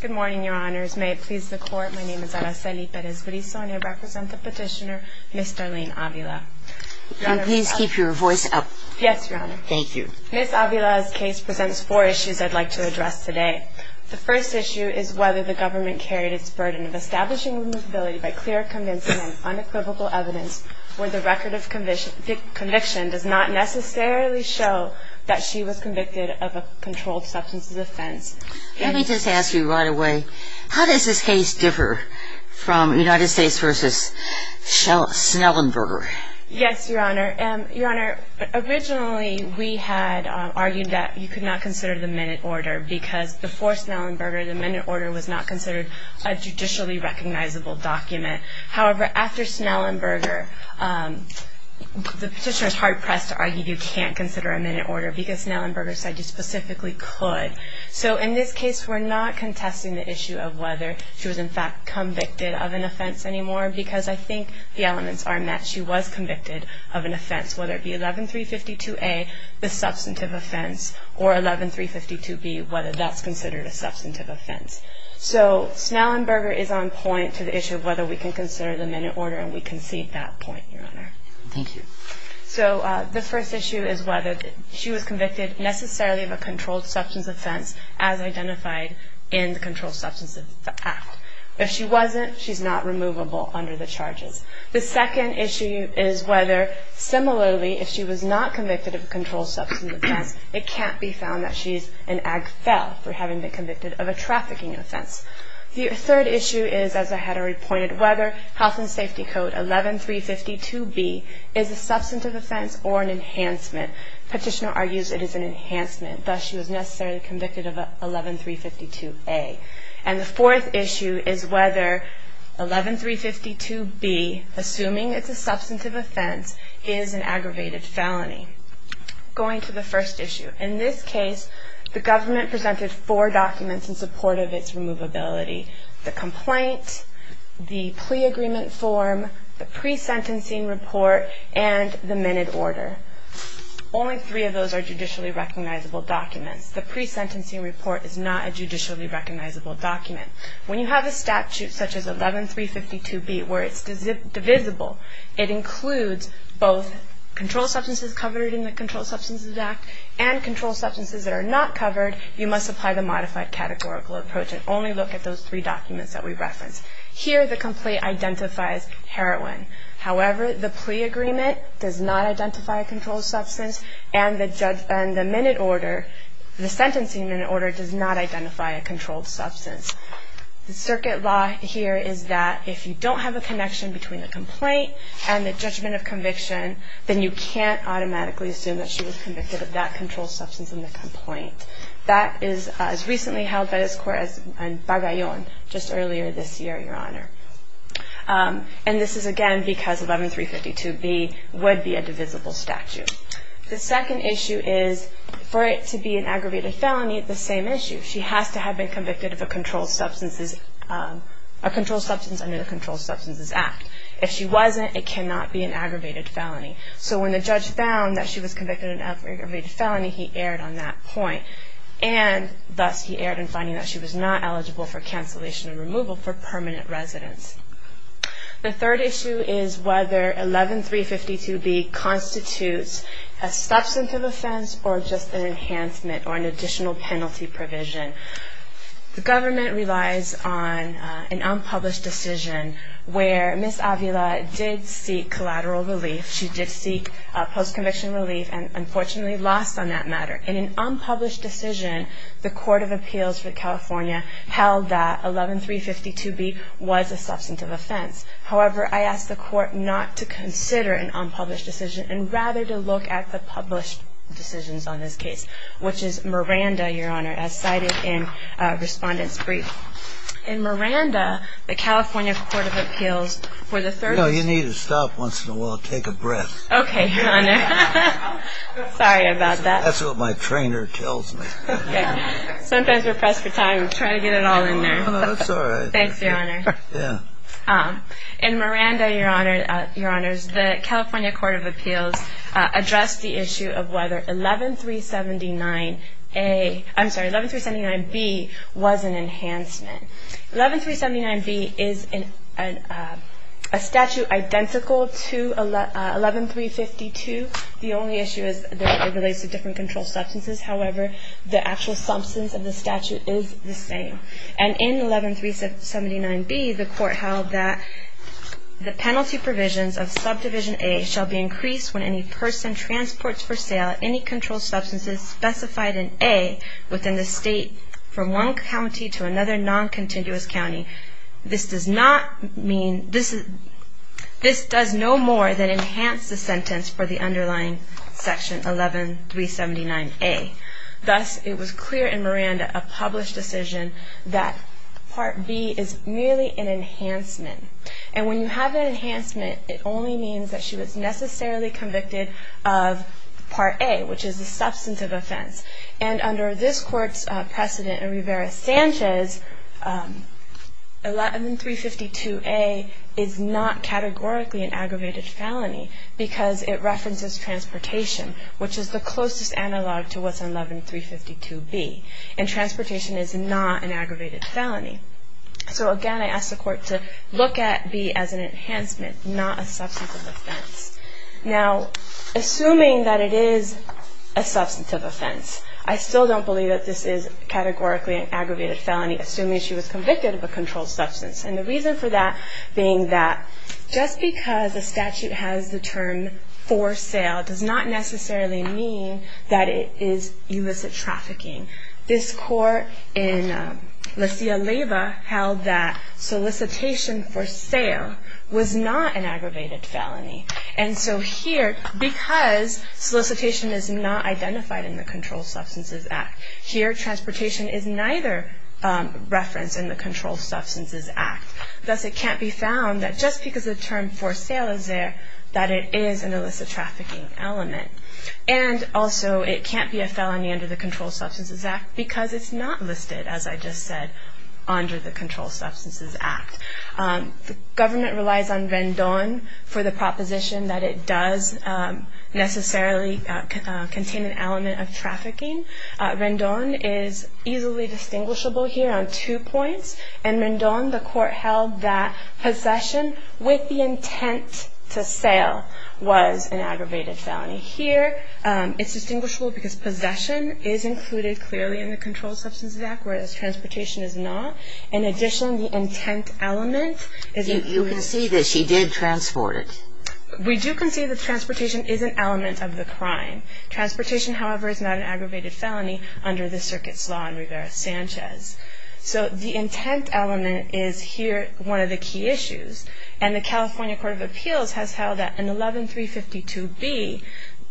Good morning, Your Honors. May it please the Court, my name is Araceli Perez-Burriso and I represent the petitioner, Ms. Darlene Avila. And please keep your voice up. Yes, Your Honor. Thank you. Ms. Avila's case presents four issues I'd like to address today. The first issue is whether the government carried its burden of establishing removability by clear, convincing and unequivocal evidence where the record of conviction does not necessarily show that she was convicted of a controlled substance offense. Let me just ask you right away, how does this case differ from United States v. Snellenberger? Yes, Your Honor. Your Honor, originally we had argued that you could not consider the minute order because before Snellenberger, the minute order was not considered a judicially recognizable document. However, after Snellenberger, the petitioner was hard-pressed to argue you can't consider a minute order because Snellenberger said you specifically could. So in this case, we're not contesting the issue of whether she was in fact convicted of an offense anymore because I think the elements are met. She was convicted of an offense, whether it be 11-352A, the substantive offense, or 11-352B, whether that's considered a substantive offense. So Snellenberger is on point to the issue of whether we can consider the minute order and we concede that point, Your Honor. Thank you. So the first issue is whether she was convicted necessarily of a controlled substance offense as identified in the Controlled Substances Act. If she wasn't, she's not removable under the charges. The second issue is whether, similarly, if she was not convicted of a controlled substance offense, it can't be found that she's an ag fel for having been convicted of a trafficking offense. The third issue is, as I had already pointed, whether Health and Safety Code 11-352B is a substantive offense or an enhancement. Petitioner argues it is an enhancement, thus she was necessarily convicted of 11-352A. And the fourth issue is whether 11-352B, assuming it's a substantive offense, is an aggravated felony. Going to the first issue. In this case, the government presented four documents in support of its removability. The complaint, the plea agreement form, the pre-sentencing report, and the minute order. Only three of those are judicially recognizable documents. The pre-sentencing report is not a judicially recognizable document. When you have a statute such as 11-352B where it's divisible, it includes both controlled substances covered in the Controlled Substances Act and controlled substances that are not covered, you must apply the modified categorical approach and only look at those three documents that we referenced. Here, the complaint identifies heroin. However, the plea agreement does not identify a controlled substance, and the minute order, the sentencing minute order, does not identify a controlled substance. The circuit law here is that if you don't have a connection between a complaint and the judgment of conviction, then you can't automatically assume that she was convicted of that controlled substance in the complaint. That is as recently held by this Court as Bagayon just earlier this year, Your Honor. And this is, again, because 11-352B would be a divisible statute. The second issue is for it to be an aggravated felony, it's the same issue. She has to have been convicted of a controlled substance under the Controlled Substances Act. If she wasn't, it cannot be an aggravated felony. So when the judge found that she was convicted of an aggravated felony, he erred on that point. And thus he erred in finding that she was not eligible for cancellation and removal for permanent residence. The third issue is whether 11-352B constitutes a substantive offense or just an enhancement or an additional penalty provision. The government relies on an unpublished decision where Ms. Avila did seek collateral relief. She did seek post-conviction relief and unfortunately lost on that matter. In an unpublished decision, the Court of Appeals for California held that 11-352B was a substantive offense. However, I ask the Court not to consider an unpublished decision and rather to look at the published decisions on this case, which is Miranda, Your Honor, as cited in Respondent's Brief. In Miranda, the California Court of Appeals for the third... No, you need to stop once in a while and take a breath. Okay, Your Honor. Sorry about that. That's what my trainer tells me. Sometimes we're pressed for time. We try to get it all in there. No, that's all right. Thanks, Your Honor. In Miranda, Your Honor, the California Court of Appeals addressed the issue of whether 11-379A... I'm sorry, 11-379B was an enhancement. 11-379B is a statute identical to 11-352. The only issue is that it relates to different controlled substances. However, the actual substance of the statute is the same. And in 11-379B, the Court held that the penalty provisions of Subdivision A shall be increased when any person transports for sale any controlled substances specified in A within the state from one county to another non-continuous county. This does no more than enhance the sentence for the underlying Section 11-379A. Thus, it was clear in Miranda, a published decision, that Part B is merely an enhancement. And when you have an enhancement, it only means that she was necessarily convicted of Part A, which is a substantive offense. And under this Court's precedent in Rivera-Sanchez, 11-352A is not categorically an aggravated felony because it references transportation, which is the closest analog to what's in 11-352B. And transportation is not an aggravated felony. So again, I ask the Court to look at B as an enhancement, not a substantive offense. Now, assuming that it is a substantive offense, I still don't believe that this is categorically an aggravated felony, assuming she was convicted of a controlled substance. And the reason for that being that just because a statute has the term for sale does not necessarily mean that it is illicit trafficking. This Court in La Silla-Leyva held that solicitation for sale was not an aggravated felony. And so here, because solicitation is not identified in the Controlled Substances Act, here transportation is neither referenced in the Controlled Substances Act. Thus, it can't be found that just because the term for sale is there, that it is an illicit trafficking element. And also, it can't be a felony under the Controlled Substances Act because it's not listed, as I just said, under the Controlled Substances Act. The government relies on Rendon for the proposition that it does necessarily contain an element of trafficking. Rendon is easily distinguishable here on two points. In Rendon, the Court held that possession with the intent to sale was an aggravated felony. Here, it's distinguishable because possession is included clearly in the Controlled Substances Act, whereas transportation is not. In addition, the intent element is included. You can see that she did transport it. We do concede that transportation is an element of the crime. Transportation, however, is not an aggravated felony under the circuit's law in Rivera-Sanchez. So the intent element is here one of the key issues. And the California Court of Appeals has held that in 11-352-B,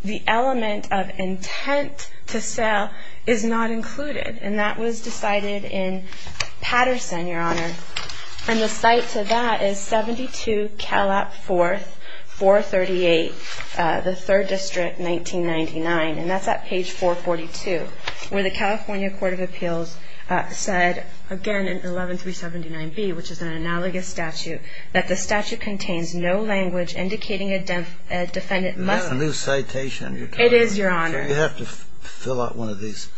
the element of intent to sell is not included. And that was decided in Patterson, Your Honor. And the site to that is 72 Calap 4th, 438, the 3rd District, 1999. And that's at page 442, where the California Court of Appeals said, again, in 11-379-B, which is an analogous statute, that the statute contains no language indicating a defendant must. That's a new citation you're talking about. It is, Your Honor. So you have to fill out one of these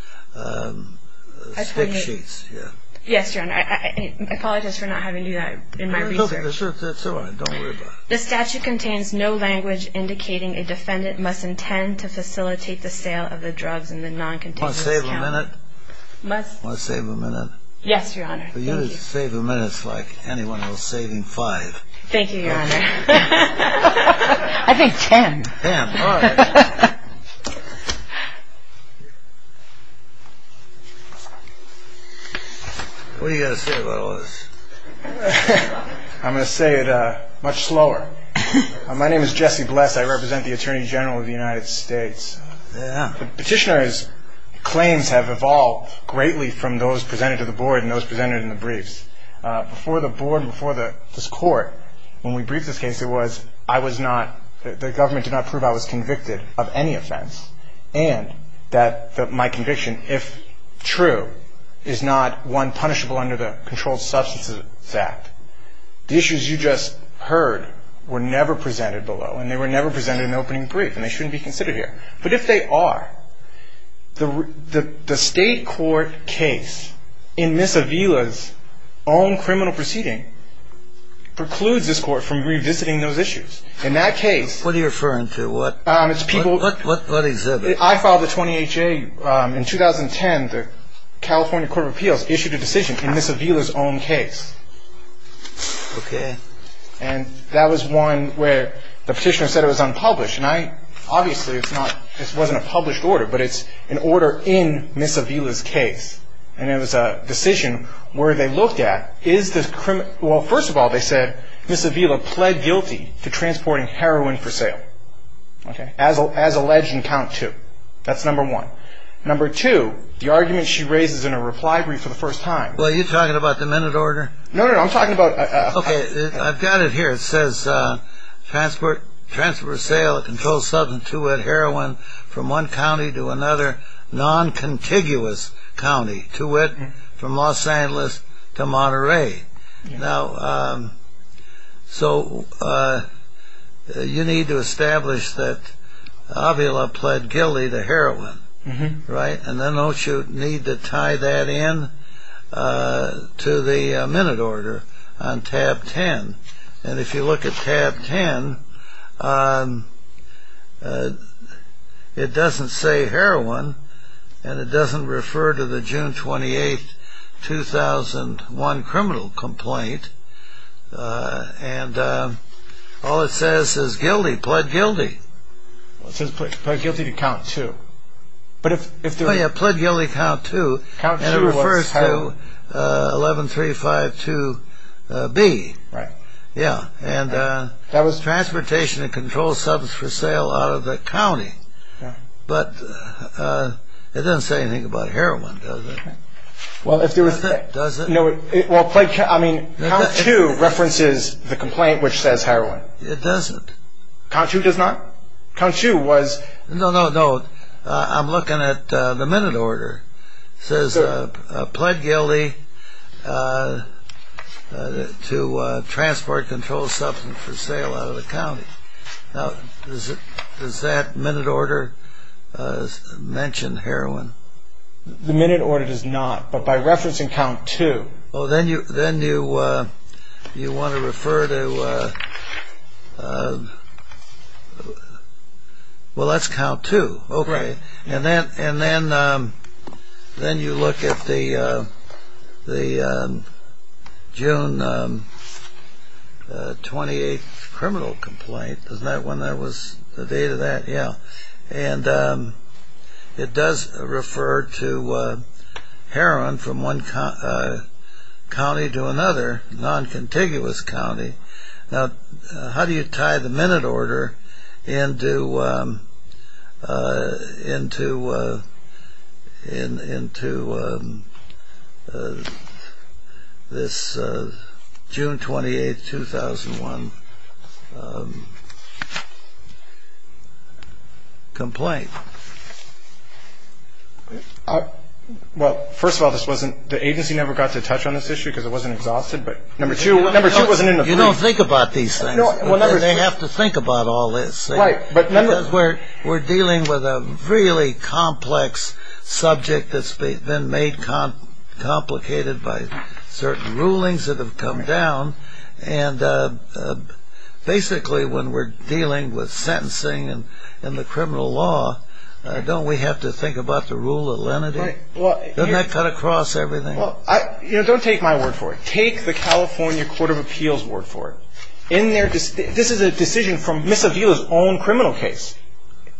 stick sheets here. Yes, Your Honor. I apologize for not having you do that in my research. That's all right. Don't worry about it. The statute contains no language indicating a defendant must intend to facilitate the sale of the drugs in the noncontiguous count. Must save a minute? Must. Must save a minute? Yes, Your Honor. You save a minute like anyone who is saving five. Thank you, Your Honor. I think ten. Ten. All right. What are you going to say about all this? I'm going to say it much slower. My name is Jesse Bless. I represent the Attorney General of the United States. Petitioner's claims have evolved greatly from those presented to the Board and those presented in the briefs. Before the Board and before this Court, when we briefed this case, it was, I was not, the government did not prove I was convicted of any offense, and that my conviction, if true, is not one punishable under the Controlled Substances Act. The issues you just heard were never presented below, and they were never presented in the opening brief, and they shouldn't be considered here. But if they are, the state court case in Miss Avila's own criminal proceeding precludes this Court from revisiting those issues. In that case, What are you referring to? It's people What is it? I filed the 20HA in 2010. The California Court of Appeals issued a decision in Miss Avila's own case. Okay. And that was one where the petitioner said it was unpublished, and I, obviously, it's not, this wasn't a published order, but it's an order in Miss Avila's case. And it was a decision where they looked at, is the, well, first of all, they said, Miss Avila pled guilty to transporting heroin for sale, okay, as alleged in count two. That's number one. Number two, the argument she raises in her reply brief for the first time, Well, are you talking about the minute order? No, no, no, I'm talking about Okay, I've got it here. It says, transport, transport or sale of controlled substance, two-whet heroin, from one county to another non-contiguous county. Two-whet from Los Angeles to Monterey. Okay. Now, so you need to establish that Avila pled guilty to heroin, right? And then don't you need to tie that in to the minute order on tab 10? And if you look at tab 10, it doesn't say heroin, and it doesn't refer to the June 28, 2001 criminal complaint, and all it says is guilty, pled guilty. It says pled guilty to count two. But if there was Oh, yeah, pled guilty to count two, and it refers to 11352B. Right. But it doesn't say anything about heroin, does it? Well, if there was Does it? No, well, I mean, count two references the complaint, which says heroin. It doesn't. Count two does not? Count two was No, no, no, I'm looking at the minute order. It says pled guilty to transport controlled substance for sale out of the county. Does that minute order mention heroin? The minute order does not, but by referencing count two Oh, then you want to refer to Well, that's count two. Right. And then you look at the June 28 criminal complaint. Isn't that when that was, the date of that? Yeah. And it does refer to heroin from one county to another, non-contiguous county. Now, how do you tie the minute order into this June 28, 2001 complaint? Well, first of all, the agency never got to touch on this issue because it wasn't exhausted. You don't think about these things. They have to think about all this. Because we're dealing with a really complex subject that's been made complicated by certain rulings that have come down. And basically, when we're dealing with sentencing and the criminal law, don't we have to think about the rule of lenity? Doesn't that cut across everything? Well, don't take my word for it. Take the California Court of Appeals' word for it. This is a decision from Misa Vila's own criminal case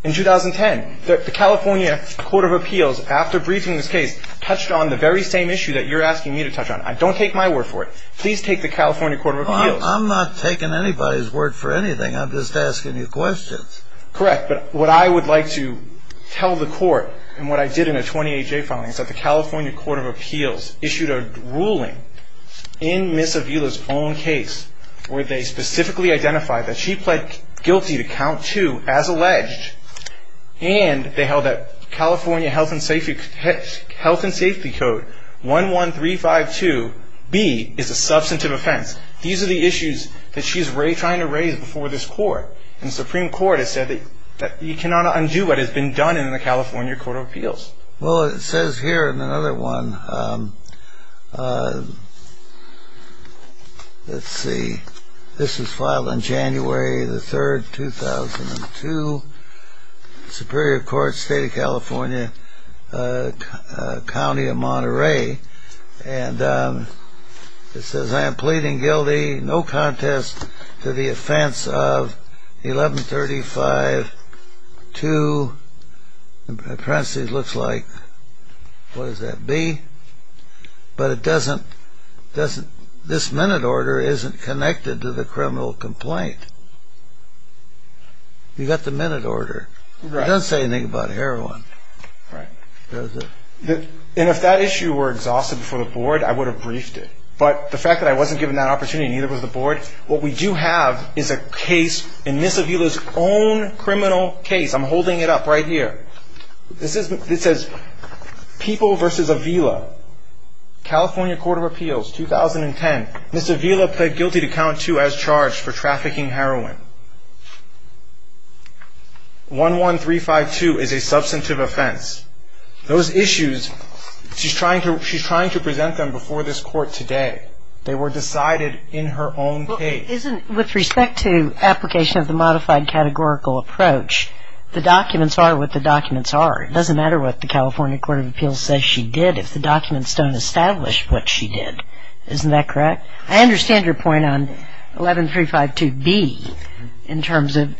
in 2010. The California Court of Appeals, after briefing this case, touched on the very same issue that you're asking me to touch on. Don't take my word for it. Please take the California Court of Appeals. I'm not taking anybody's word for anything. I'm just asking you questions. Correct. But what I would like to tell the court and what I did in a 28-J filing is that the California Court of Appeals issued a ruling in Misa Vila's own case where they specifically identified that she pled guilty to count two as alleged. And they held that California Health and Safety Code 11352B is a substantive offense. These are the issues that she's trying to raise before this court. And the Supreme Court has said that you cannot undo what has been done in the California Court of Appeals. Well, it says here in another one, let's see, this was filed on January 3, 2002, Superior Court, State of California, County of Monterey. And it says, I am pleading guilty, no contest to the offense of 11352, it looks like, what does that be? But it doesn't, this minute order isn't connected to the criminal complaint. You've got the minute order. It doesn't say anything about heroin. Right. And if that issue were exhausted before the board, I would have briefed it. But the fact that I wasn't given that opportunity, neither was the board, what we do have is a case in Misa Vila's own criminal case. I'm holding it up right here. This says, People v. Avila, California Court of Appeals, 2010. Misa Vila pled guilty to count two as charged for trafficking heroin. 11352 is a substantive offense. Those issues, she's trying to present them before this court today. They were decided in her own case. Well, isn't, with respect to application of the modified categorical approach, the documents are what the documents are. It doesn't matter what the California Court of Appeals says she did if the documents don't establish what she did. Isn't that correct? I understand your point on 11352B in terms of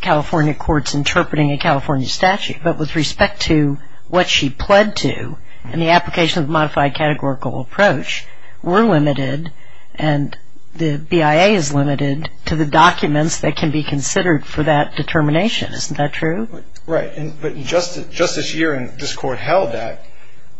California courts interpreting a California statute. But with respect to what she pled to in the application of the modified categorical approach, we're limited and the BIA is limited to the documents that can be considered for that determination. Isn't that true? Right. But just this year, this court held that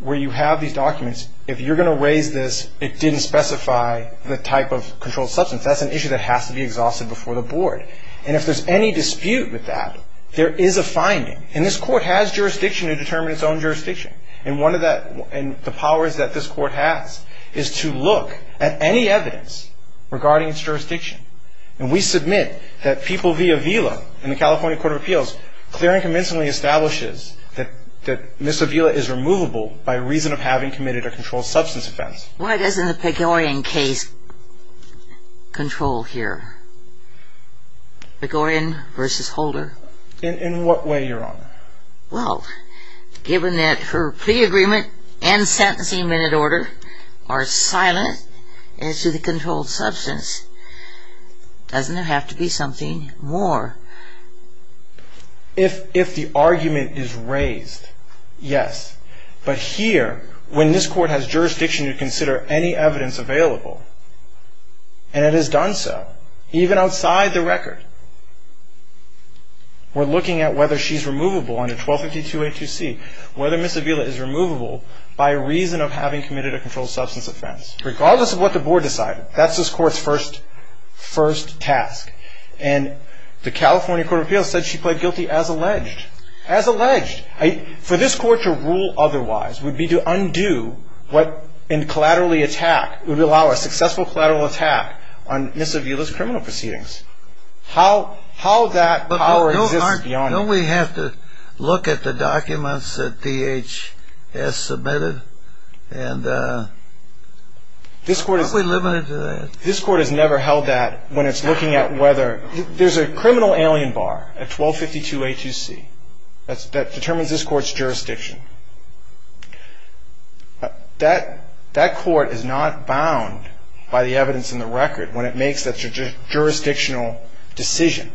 where you have these documents, if you're going to raise this, it didn't specify the type of controlled substance. That's an issue that has to be exhausted before the board. And if there's any dispute with that, there is a finding. And this court has jurisdiction to determine its own jurisdiction. And one of the powers that this court has is to look at any evidence regarding its jurisdiction. And we submit that people via VILA in the California Court of Appeals clearly and convincingly establishes that Ms. Avila is removable by reason of having committed a controlled substance offense. Why doesn't the Pegorian case control here? Pegorian versus Holder. In what way, Your Honor? Well, given that her plea agreement and sentencing minute order are silent as to the controlled substance, doesn't it have to be something more? If the argument is raised, yes. But here, when this court has jurisdiction to consider any evidence available, and it has done so, even outside the record, we're looking at whether she's removable under 1252A2C, whether Ms. Avila is removable by reason of having committed a controlled substance offense. Regardless of what the board decided, that's this court's first task. And the California Court of Appeals said she pled guilty as alleged. As alleged. For this court to rule otherwise would be to undo what in collaterally attack, would allow a successful collateral attack on Ms. Avila's criminal proceedings. How that power exists is beyond me. But don't we have to look at the documents that DHS submitted? And aren't we limited to that? This court has never held that when it's looking at whether – there's a criminal alien bar at 1252A2C that determines this court's jurisdiction. That court is not bound by the evidence in the record when it makes that jurisdictional decision.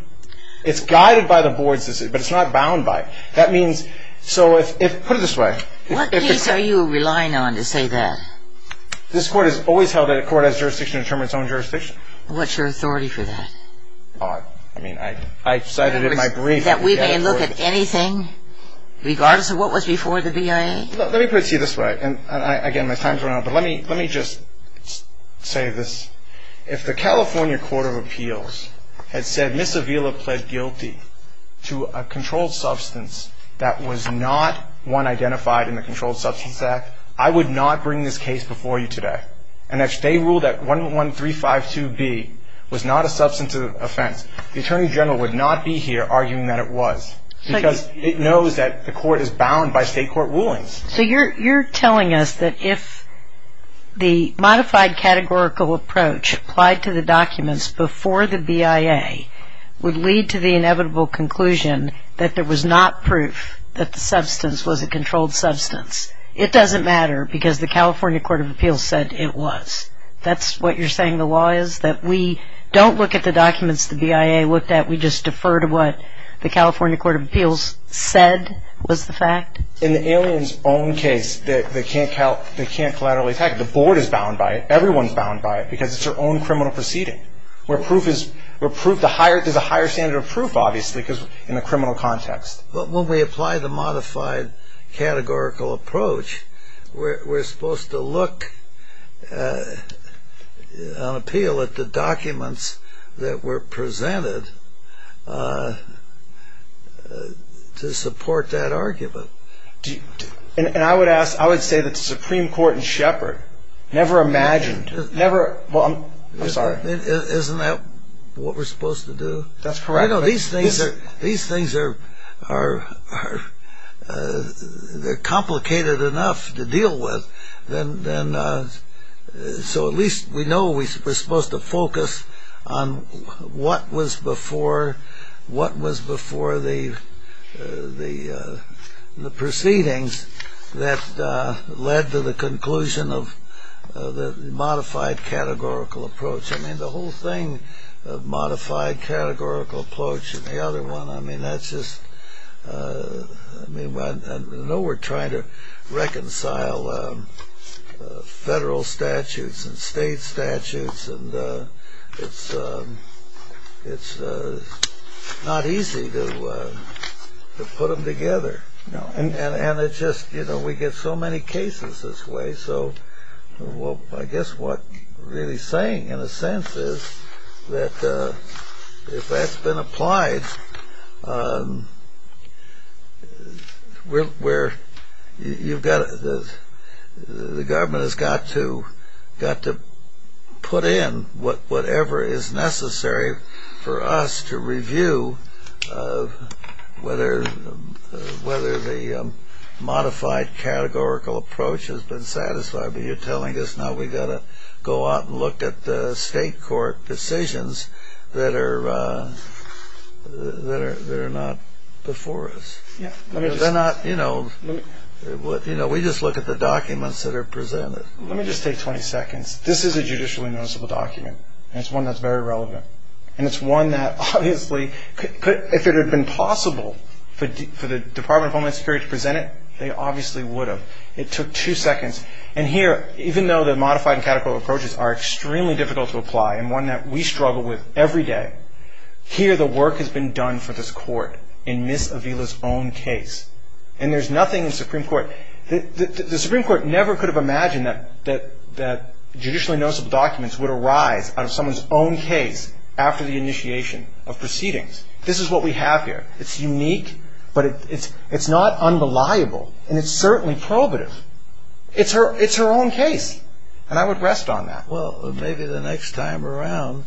It's guided by the board's decision, but it's not bound by it. That means – so if – put it this way. What case are you relying on to say that? This court has always held that a court has jurisdiction to determine its own jurisdiction. What's your authority for that? I mean, I cited it in my brief. You say that we may look at anything regardless of what was before the VA? Let me put it to you this way. And, again, my time's running out. But let me just say this. If the California Court of Appeals had said Ms. Avila pled guilty to a controlled substance that was not one identified in the Controlled Substance Act, I would not bring this case before you today. And if they ruled that 11352B was not a substantive offense, the Attorney General would not be here arguing that it was because it knows that the court is bound by state court rulings. So you're telling us that if the modified categorical approach applied to the documents before the BIA would lead to the inevitable conclusion that there was not proof that the substance was a controlled substance, it doesn't matter because the California Court of Appeals said it was. That's what you're saying the law is? That we don't look at the documents the BIA looked at, we just defer to what the California Court of Appeals said was the fact? In the alien's own case, they can't collaterally attack it. The board is bound by it. Everyone's bound by it because it's their own criminal proceeding. There's a higher standard of proof, obviously, in the criminal context. But when we apply the modified categorical approach, we're supposed to look on appeal at the documents that were presented to support that argument. And I would ask, I would say that the Supreme Court in Shepard never imagined, never, I'm sorry. Isn't that what we're supposed to do? That's correct. These things are complicated enough to deal with, so at least we know we're supposed to focus on what was before the proceedings that led to the conclusion of the modified categorical approach. I mean, the whole thing of modified categorical approach and the other one, I mean, that's just, I know we're trying to reconcile federal statutes and state statutes, and it's not easy to put them together. And it's just, you know, we get so many cases this way, so I guess what we're really saying, in a sense, is that if that's been applied, the government has got to put in whatever is necessary for us to review whether the modified categorical approach has been satisfied. But you're telling us now we've got to go out and look at the state court decisions that are not before us. They're not, you know, we just look at the documents that are presented. Let me just take 20 seconds. This is a judicially noticeable document, and it's one that's very relevant. And it's one that obviously, if it had been possible for the Department of Homeland Security to present it, they obviously would have. It took two seconds. And here, even though the modified and categorical approaches are extremely difficult to apply and one that we struggle with every day, here the work has been done for this court in Ms. Avila's own case. And there's nothing in the Supreme Court, the Supreme Court never could have imagined that judicially noticeable documents would arise out of someone's own case after the initiation of proceedings. This is what we have here. It's unique, but it's not unreliable, and it's certainly probative. It's her own case, and I would rest on that. Well, maybe the next time around.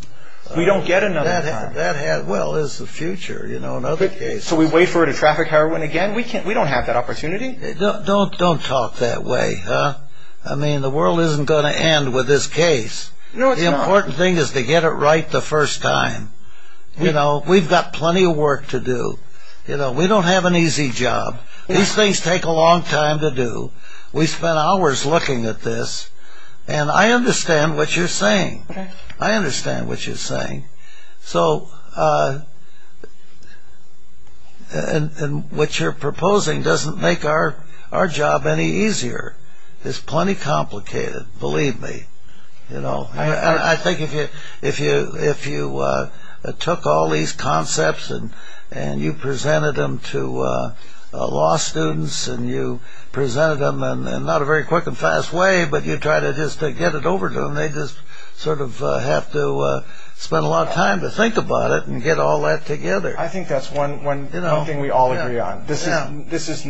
We don't get another time. Well, there's the future, you know, in other cases. So we wait for her to traffic heroin again? We don't have that opportunity. Don't talk that way, huh? I mean, the world isn't going to end with this case. The important thing is to get it right the first time. You know, we've got plenty of work to do. You know, we don't have an easy job. These things take a long time to do. We spent hours looking at this, and I understand what you're saying. I understand what you're saying. So what you're proposing doesn't make our job any easier. It's plenty complicated, believe me. You know, I think if you took all these concepts and you presented them to law students and you presented them in not a very quick and fast way, but you try to just get it over to them, they just sort of have to spend a lot of time to think about it and get all that together. I think that's one thing we all agree on. This is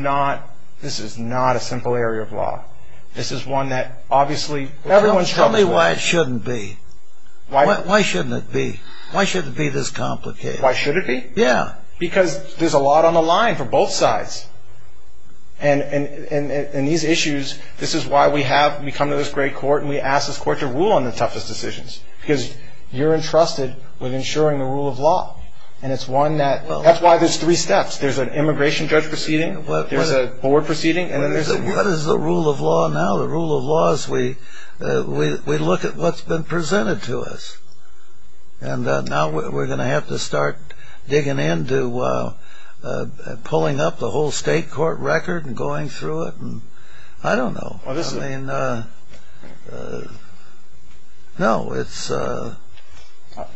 not a simple area of law. This is one that obviously everyone struggles with. Tell me why it shouldn't be. Why shouldn't it be? Why shouldn't it be this complicated? Why should it be? Yeah. Because there's a lot on the line for both sides. And these issues, this is why we come to this great court and we ask this court to rule on the toughest decisions, because you're entrusted with ensuring the rule of law. That's why there's three steps. There's an immigration judge proceeding. There's a board proceeding. What is the rule of law now? The rule of law is we look at what's been presented to us. And now we're going to have to start digging into pulling up the whole state court record and going through it. I don't know. I mean, no, it's... On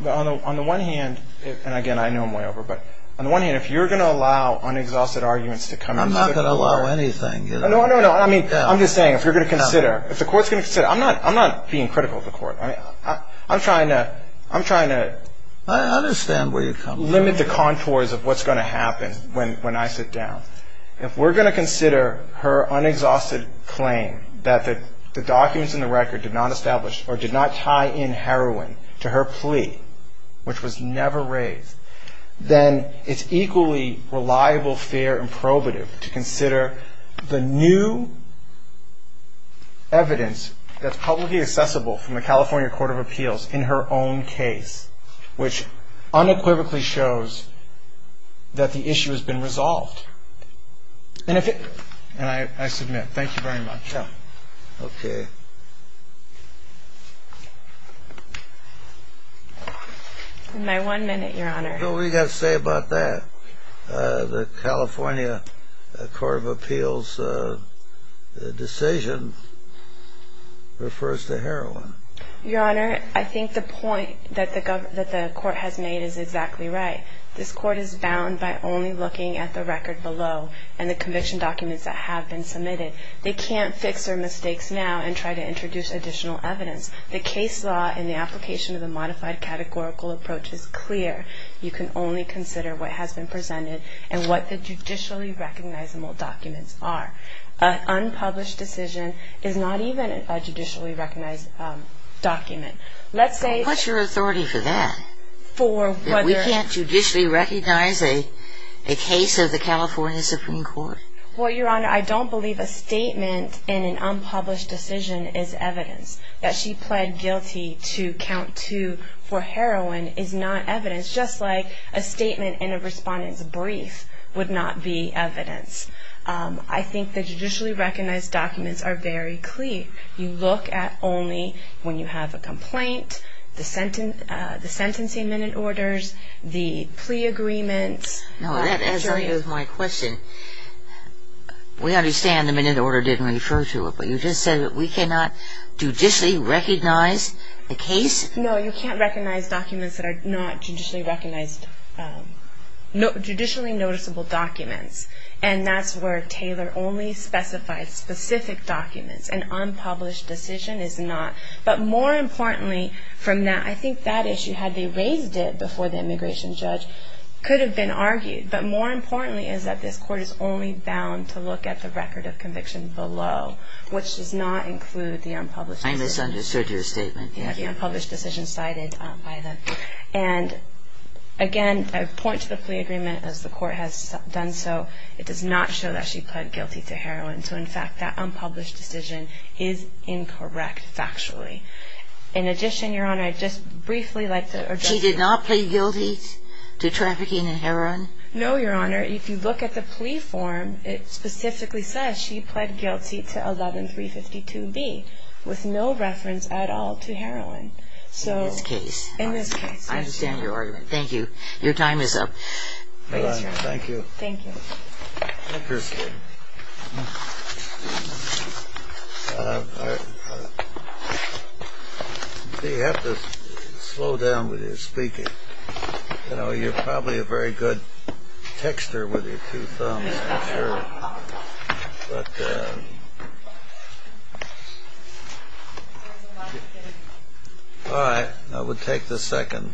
the one hand, and again, I know I'm way over, but on the one hand, if you're going to allow unexhausted arguments to come... I'm not going to allow anything. No, no, no. I mean, I'm just saying, if you're going to consider, if the court's going to consider, I'm not being critical of the court. I'm trying to... I understand where you're coming from. ...limit the contours of what's going to happen when I sit down. If we're going to consider her unexhausted claim that the documents in the record did not establish or did not tie in heroin to her plea, which was never raised, then it's equally reliable, fair, and probative to consider the new evidence that's publicly accessible from the California Court of Appeals in her own case, which unequivocally shows that the issue has been resolved. And if it... And I submit. Thank you very much. Okay. My one minute, Your Honor. What do we got to say about that? The California Court of Appeals decision refers to heroin. Your Honor, I think the point that the court has made is exactly right. This court is bound by only looking at the record below and the conviction documents that have been submitted. They can't fix their mistakes now and try to introduce additional evidence. The case law and the application of the modified categorical approach is clear. You can only consider what has been presented and what the judicially recognizable documents are. An unpublished decision is not even a judicially recognized document. Let's say... What's your authority for that? For whether... We can't judicially recognize a case of the California Supreme Court? Well, Your Honor, I don't believe a statement in an unpublished decision is evidence. That she pled guilty to count two for heroin is not evidence, just like a statement in a respondent's brief would not be evidence. I think the judicially recognized documents are very clear. You look at only when you have a complaint, the sentencing minute orders, the plea agreements... No, that answers my question. We understand the minute order didn't refer to it, but you just said that we cannot judicially recognize the case? No, you can't recognize documents that are not judicially recognized... judicially noticeable documents. And that's where Taylor only specifies specific documents. An unpublished decision is not. But more importantly from that, I think that issue, had they raised it before the immigration judge, could have been argued. But more importantly is that this Court is only bound to look at the record of conviction below, which does not include the unpublished decision. I misunderstood your statement. The unpublished decision cited by the... And, again, I point to the plea agreement as the Court has done so. It does not show that she pled guilty to heroin. So, in fact, that unpublished decision is incorrect factually. In addition, Your Honor, I'd just briefly like to... She did not plead guilty to trafficking in heroin? No, Your Honor. If you look at the plea form, it specifically says she pled guilty to 11352B, with no reference at all to heroin. In this case. In this case. I understand your argument. Thank you. Your time is up. Thank you. Thank you. I appreciate it. You have to slow down with your speaking. You're probably a very good texter with your two thumbs, I'm sure. But... All right. I will take the second.